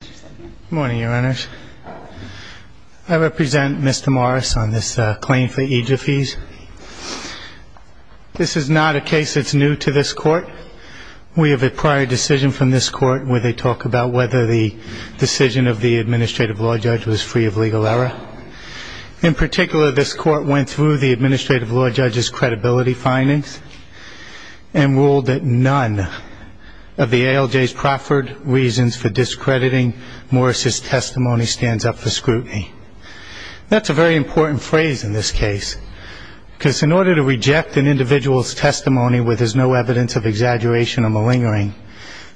Good morning, Your Honors. I represent Mr. Morris on this claim for EGF fees. This is not a case that's new to this Court. We have a prior decision from this Court where they talk about whether the decision of the Administrative Law Judge was free of legal error. In particular, this Court went through the Administrative Law Judge's credibility findings and ruled that none of the ALJ's proffered reasons for discrediting Morris's testimony stands up for scrutiny. That's a very important phrase in this case, because in order to reject an individual's testimony where there's no evidence of exaggeration or malingering,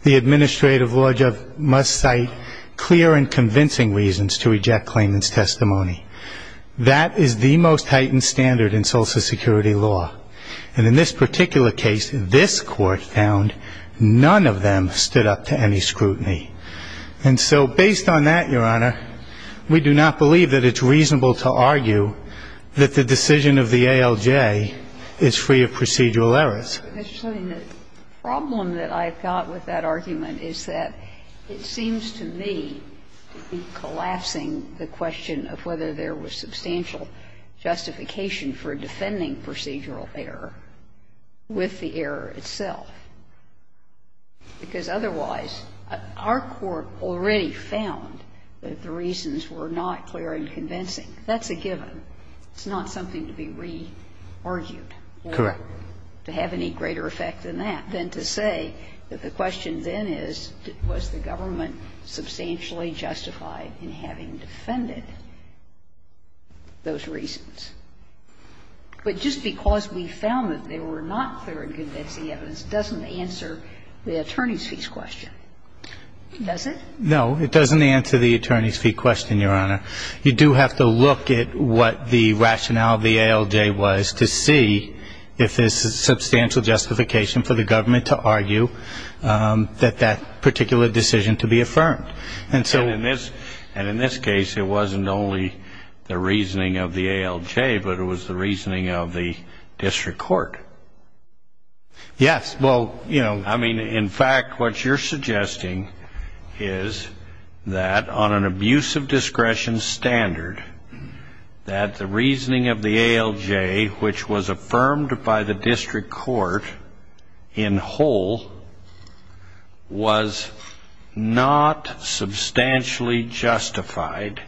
the Administrative Law Judge must cite clear and convincing reasons to reject claimant's testimony. That is the most heightened standard in Social Security law. And in this particular case, this Court found none of them stood up to any scrutiny. And so based on that, Your Honor, we do not believe that it's reasonable to argue that the decision of the ALJ is free of procedural errors. The problem that I've got with that argument is that it seems to me to be collapsing the question of whether there was substantial justification for defending procedural error with the error itself, because otherwise our Court already found that the reasons were not clear and convincing. That's a given. It's not something to be re-argued or to have any greater effect than that, than to say that the question then is, was the government substantially justified in having defended those reasons? But just because we found that they were not clear and convincing evidence doesn't answer the attorney's fee question, does it? No. It doesn't answer the attorney's fee question, Your Honor. You do have to look at what the rationale of the ALJ was to see if there's substantial justification for the government to argue that that particular decision to be affirmed. And so ---- And in this case, it wasn't only the reasoning of the ALJ, but it was the reasoning of the district court. Yes. Well, you know ---- I mean, in fact, what you're suggesting is that on an abuse of discretion standard, that the reasoning of the ALJ, which was affirmed by the district court in whole, was not substantially justified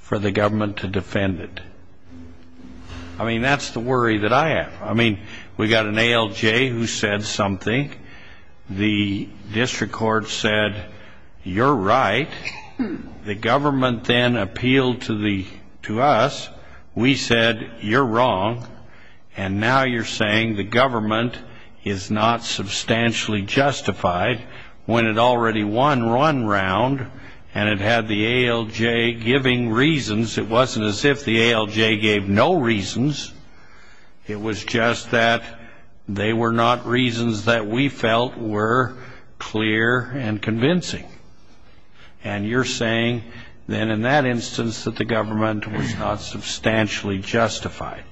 for the government to defend it. I mean, that's the worry that I have. I mean, we got an ALJ who said something. The district court said, you're right. The government then appealed to us. We said, you're wrong. And now you're saying the government is not substantially justified when it already won one round and it had the ALJ giving reasons. It wasn't as if the ALJ gave no reasons. It was just that they were not reasons that we felt were clear and convincing. And you're saying then in that instance that the government was not substantially justified.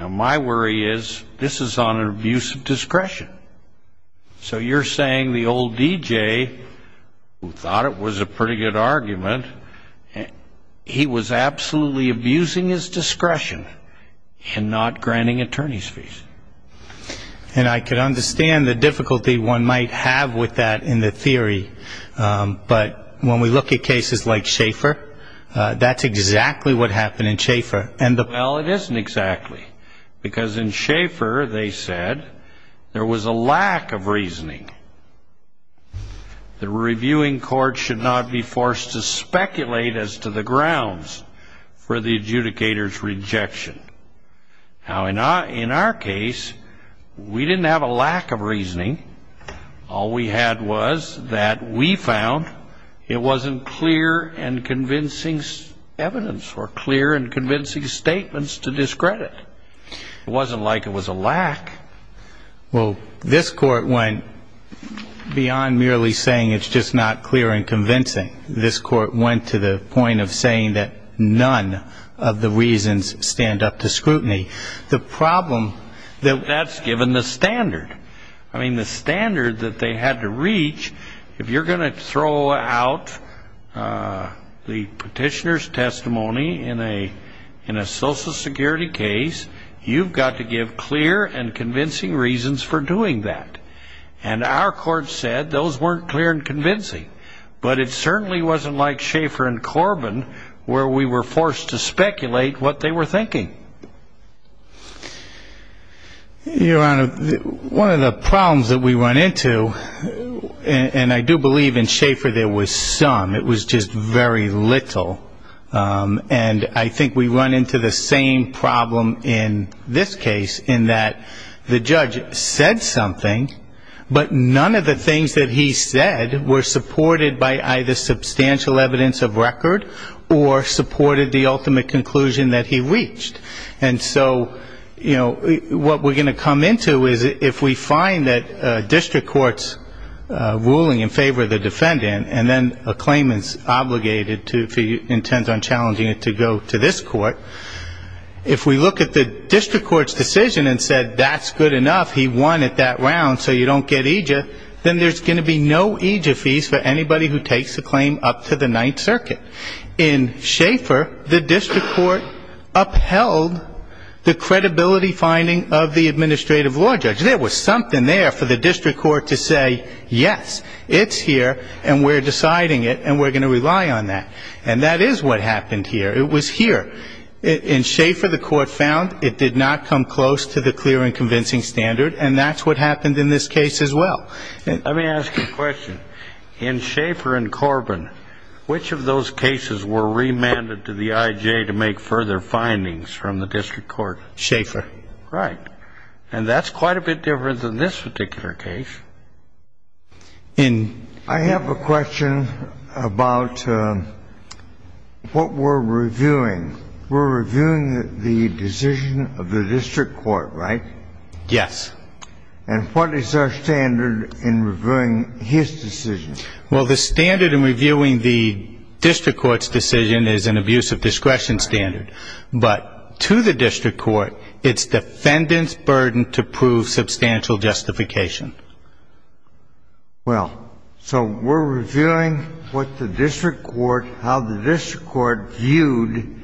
Now, my worry is this is on an abuse of discretion. So you're saying the old DJ, who thought it was a pretty good argument, he was absolutely abusing his discretion. And I can understand the difficulty one might have with that in the theory. But when we look at cases like Schaefer, that's exactly what happened in Schaefer. Well, it isn't exactly. Because in Schaefer, they said, there was a lack of reasoning. The reviewing court should not be forced to speculate as to the grounds for the adjudicator's objection. Now, in our case, we didn't have a lack of reasoning. All we had was that we found it wasn't clear and convincing evidence or clear and convincing statements to discredit. It wasn't like it was a lack. Well, this Court went beyond merely saying it's just not clear and convincing. This Court went to the point of saying that none of the reasons stand up to scrutiny. The problem that that's given the standard. I mean, the standard that they had to reach, if you're going to throw out the petitioner's testimony in a social security case, you've got to give clear and convincing reasons for doing that. And our Court said those weren't clear and And that's exactly what happened in Schaefer and Corbin, where we were forced to speculate what they were thinking. Your Honor, one of the problems that we run into, and I do believe in Schaefer there was some, it was just very little. And I think we run into the same problem in this case, in that the judge said something, but none of the things that he said were supported by either substantial evidence of record or supported the ultimate conclusion that he reached. And so, you know, what we're going to come into is if we find that district court's ruling in favor of the defendant, and then a claimant's obligated to, if he intends on challenging it to go to this court, if we look at the district court's decision and said that's good enough, he won at that round, so you don't get EJIA, then there's going to be no EJIA fees for anybody who takes the claim up to the Ninth Circuit. In Schaefer, the district court upheld the credibility finding of the administrative law judge. There was something there for the district court to say, yes, it's here and we're deciding it and we're going to rely on that. And that is what happened here. It was here. In Schaefer, the court found it did not come close to the clear and convincing standard and that's what happened in this case as well. Let me ask you a question. In Schaefer and Corbin, which of those cases were remanded to the IJ to make further findings from the district court? Schaefer. Right. And that's quite a bit different than this particular case. I have a question about what we're reviewing. We're reviewing the decision of the district court, right? Yes. And what is our standard in reviewing his decision? Well, the standard in reviewing the district court's decision is an abuse of discretion standard. But to the district court, it's defendant's burden to prove substantial justification. Well, so we're reviewing what the district court, how the district court viewed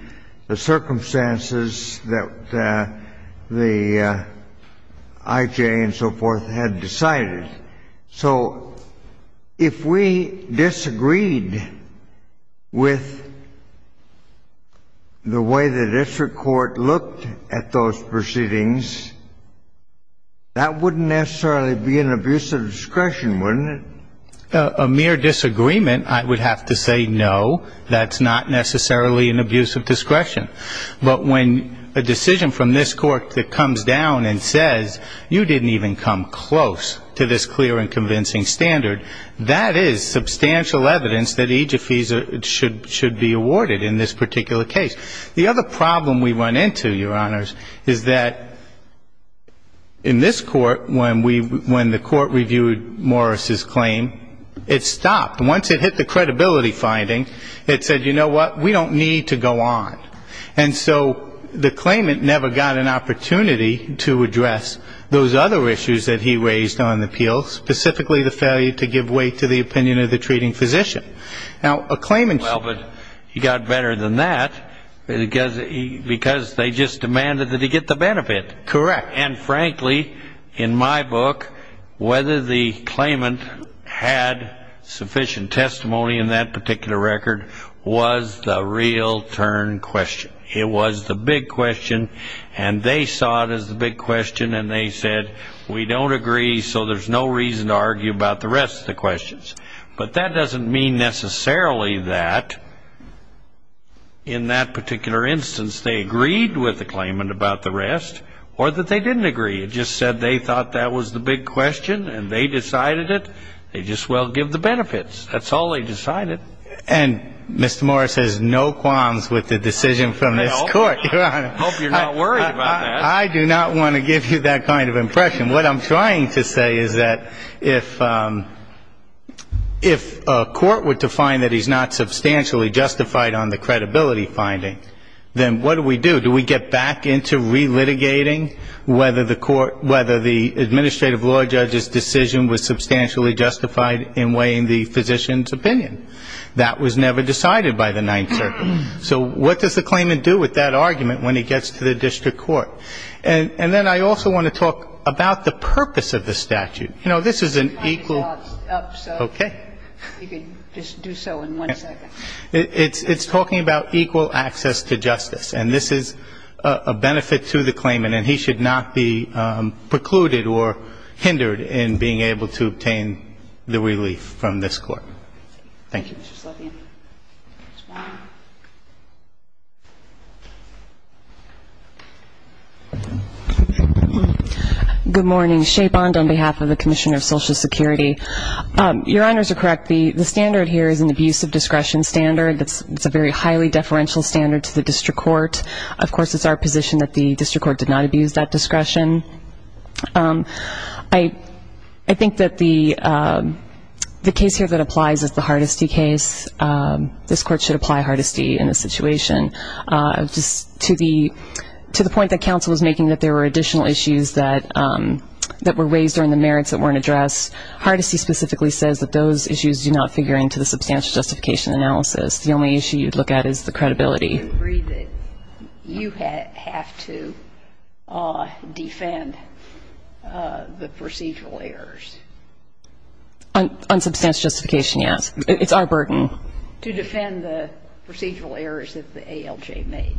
the circumstances that the IJ and so forth had decided. So if we disagreed with the way the district court looked at those proceedings, that wouldn't necessarily be an abuse of discretion, wouldn't it? A mere disagreement, I would have to say no, that's not necessarily an abuse of discretion. But when a decision from this court that comes down and says you didn't even come close to this clear and convincing standard, that is substantial evidence that IJFEs should be awarded in this particular case. The other problem we run into, Your Honors, is that in this court, when the court reviewed Morris' claim, it stopped. Once it hit the credibility finding, it said, you know what, we don't need to go on. And so the claimant never got an opportunity to address those other issues that he raised on the appeal, specifically the failure to give way to the opinion of the treating physician. Now a claimant's got better than that because they just demanded that he get the benefit. Correct. And frankly, in my book, whether the claimant had sufficient testimony in that particular record was the real turn question. It was the big question. And they saw it as the big question and they said, we don't agree, so there's no reason to argue about the rest of the questions. But that doesn't mean necessarily that in that particular instance they agreed with the claimant about the rest or that they didn't agree. It just said they thought that was the big question and they decided it. They just, well, give the benefits. That's all they decided. And Mr. Morris has no qualms with the decision from this court, Your Honor. I hope you're not worried about that. I do not want to give you that kind of impression. What I'm trying to say is that if a court were to find that he's not substantially justified on the credibility finding, then what do we do? Do we get back into relitigating whether the administrative law judge's decision was substantially justified in weighing the physician's opinion? That was never decided by the Ninth Circuit Court. And then I also want to talk about the purpose of the statute. You know, this is an equal ‑‑ I'm trying to get my thoughts up, so you can just do so in one second. It's talking about equal access to justice. And this is a benefit to the claimant and he should not be precluded or hindered in being able to obtain the relief from this court. Thank you. Thank you, Mr. Slotkin. Good morning. Shea Bond on behalf of the Commissioner of Social Security. Your Honors are correct, the standard here is an abuse of discretion standard. It's a very highly deferential standard to the district court. Of course, it's our position that the district court did not abuse that discretion. I think that the case here that applies is the Hardesty case. This court should apply Hardesty in this situation. To the point that counsel was making that there were additional issues that were raised during the merits that weren't addressed, Hardesty specifically says that those issues do not figure into the substantial justification analysis. The only issue you'd look at is the credibility. I agree that you have to defend the procedural errors. On substantial justification, yes. It's our burden. To defend the procedural errors that the ALJ made.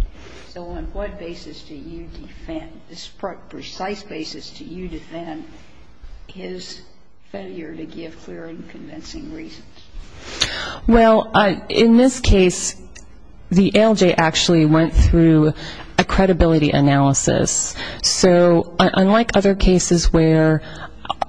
So on what basis do you defend the precise basis do you defend his failure to give clear and convincing reasons? Well, in this case, the ALJ actually went through a credibility analysis. So unlike other cases where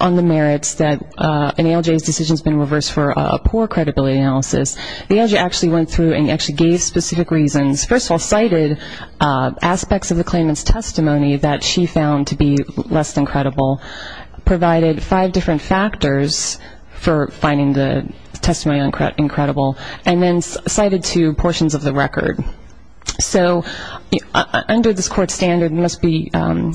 on the merits that an ALJ's decision has been reversed for a poor credibility analysis, the ALJ actually went through and actually gave specific reasons. First of all, cited aspects of the claimant's testimony that she found to be less than credible, provided five different factors for finding the testimony incredible, and then cited two portions of the record. So under this court's standard, it must be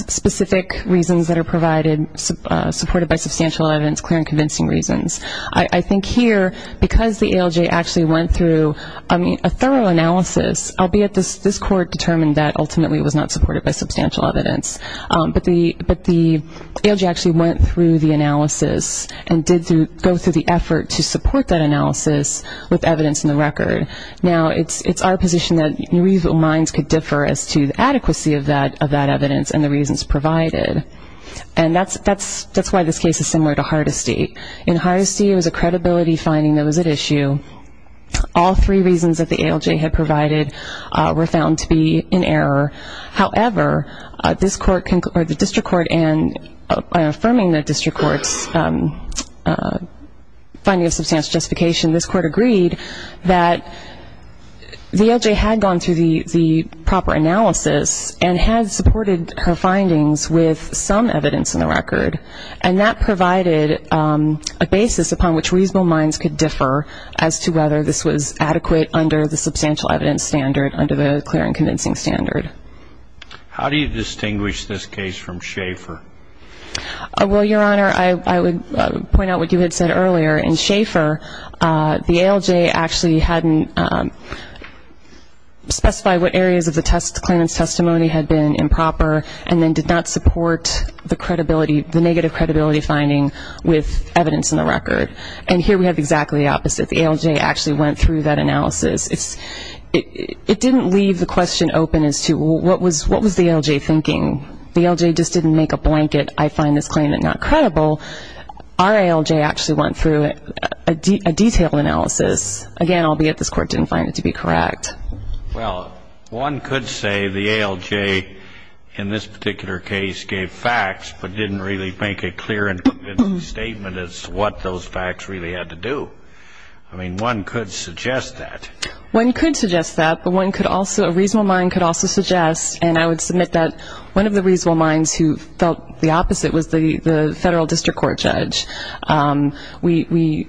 specific reasons that are provided, supported by substantial evidence, clear and convincing reasons. I think here, because the ALJ actually went through a thorough analysis, albeit this court determined that ultimately it was not supported by substantial evidence. But the ALJ actually went through the analysis and did go through the effort to support that analysis with evidence in the record. Now, it's our position that new evil minds could differ as to the adequacy of that evidence and the reasons provided. And that's why this case is similar to Hardesty. In Hardesty, it was a credibility finding that was at issue. All three reasons that the ALJ had provided were found to be in error. However, this court, or the district court, and affirming the district court's finding of substantial justification, this court agreed that the ALJ had gone through the proper analysis and had supported her findings with some evidence in the record. And that provided a basis upon which reasonable minds could differ as to whether this was under the clear and convincing standard. How do you distinguish this case from Schaefer? Well, Your Honor, I would point out what you had said earlier. In Schaefer, the ALJ actually hadn't specified what areas of the claimant's testimony had been improper and then did not support the credibility, the negative credibility finding with evidence in the record. And here we have exactly the opposite. The ALJ actually went through that analysis. It didn't leave the question open as to what was the ALJ thinking. The ALJ just didn't make a blanket, I find this claimant not credible. Our ALJ actually went through a detailed analysis. Again, albeit this court didn't find it to be correct. Well, one could say the ALJ in this particular case gave facts but didn't really make a clear statement as to what those facts really had to do. I mean, one could suggest that. One could suggest that, but one could also, a reasonable mind could also suggest, and I would submit that one of the reasonable minds who felt the opposite was the Federal District Court judge. We,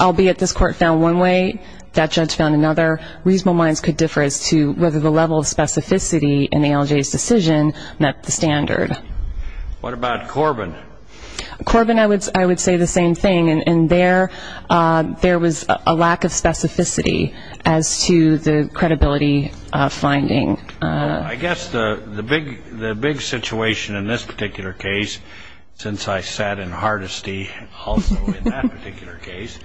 albeit this court found one way, that judge found another, reasonable minds could differ as to whether the level of specificity in the ALJ's decision met the standard. What about Corbin? Corbin, I would say the same thing. And there was a lack of specificity as to the credibility finding. I guess the big situation in this particular case, since I sat in hardesty also in that particular case,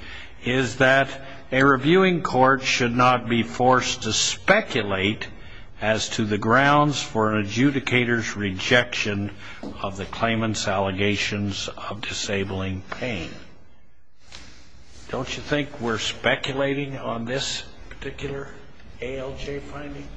is that a reviewing court should not be forced to speculate as to the foundation of the claimant's allegations of disabling pain. Don't you think we're speculating on this particular ALJ finding?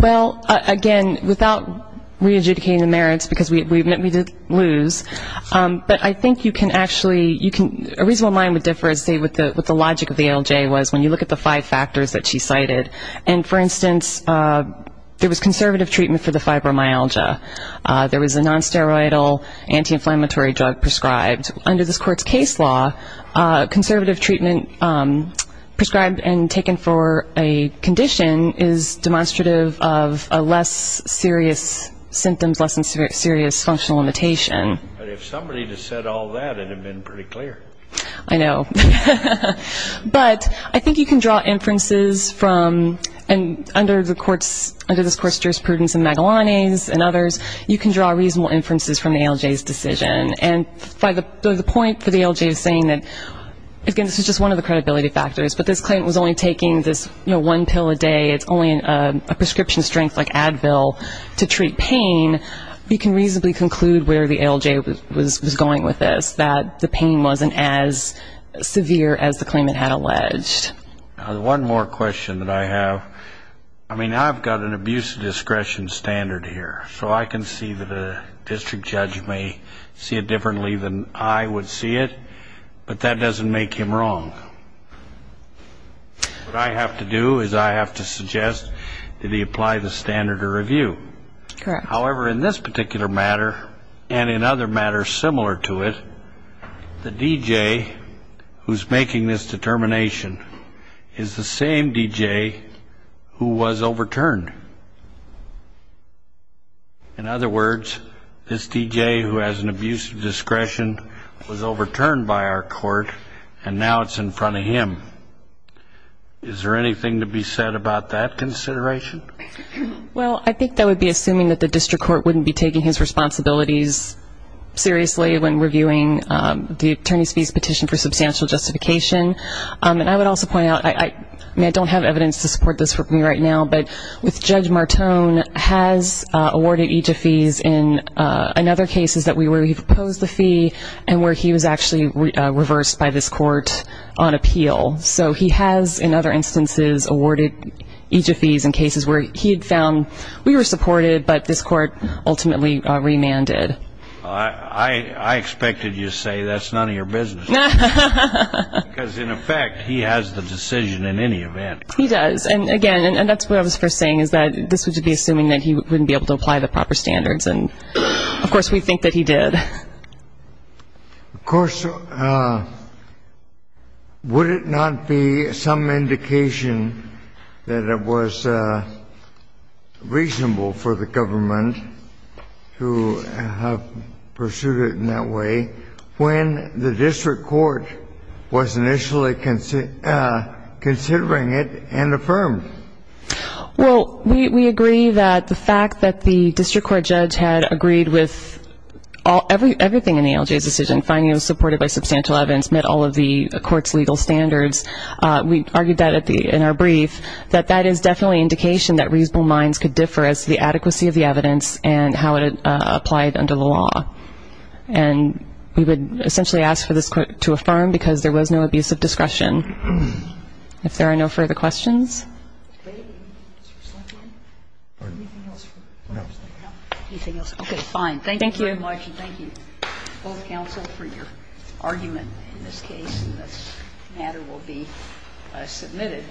Well, again, without re-adjudicating the merits, because we didn't lose, but I think you can actually, a reasonable mind would differ as to what the logic of the ALJ was when you look at the five factors that she cited. And, for instance, there was conservative treatment for the fibromyalgia. There was a non-steroidal anti-inflammatory drug prescribed. Under this court's case law, conservative treatment prescribed and taken for a condition is demonstrative of a less serious symptoms, less than serious functional limitation. But if somebody had said all that, it would have been pretty clear. I know. But I think you can draw inferences from, and under this court's jurisprudence and Magellani's and others, you can draw reasonable inferences from the ALJ's decision. And the point for the ALJ is saying that, again, this is just one of the credibility factors, but this claimant was only taking this one pill a day. It's only a prescription strength like Advil to treat pain. You can reasonably conclude where the ALJ was going with this, that the pain wasn't as severe as the claimant had alleged. One more question that I have. I mean, I've got an abuse of discretion standard here, so I can see that a district judge may see it differently than I would see it, but that doesn't make him wrong. What I have to do is I have to suggest, did he apply the standard of review? Correct. However, in this particular matter, and in other matters similar to it, the DJ who's making this determination is the same DJ who was overturned. In other words, this DJ who has an abuse of discretion was overturned by our court, and now it's in front of him. Is there anything to be said about that consideration? Well, I think that would be assuming that the district court wouldn't be taking his justification. And I would also point out, I mean, I don't have evidence to support this for me right now, but with Judge Martone has awarded EJ fees in other cases where he proposed the fee and where he was actually reversed by this court on appeal. So he has in other instances awarded EJ fees in cases where he had found we were supported, but this court ultimately remanded. I expected you to say that's none of your business. Because, in effect, he has the decision in any event. He does. And, again, and that's what I was first saying, is that this would be assuming that he wouldn't be able to apply the proper standards. And, of course, we think that he did. Of course, would it not be some indication that it was reasonable for the government to have pursued it in that way when the district court was initially considering it and affirmed? Well, we agree that the fact that the district court judge had agreed with everything in the LJ's decision, finding it was supported by substantial evidence, met all of the court's legal standards, we argued that in our brief, that that is definitely an indication that the district court judge had not pursued it in that way. And we would essentially ask for this court to affirm, because there was no abuse of discretion. If there are no further questions? Anything else? No. Okay. Fine. Thank you very much. Thank you. And thank you both, counsel, for your argument in this case. And this matter will be submitted.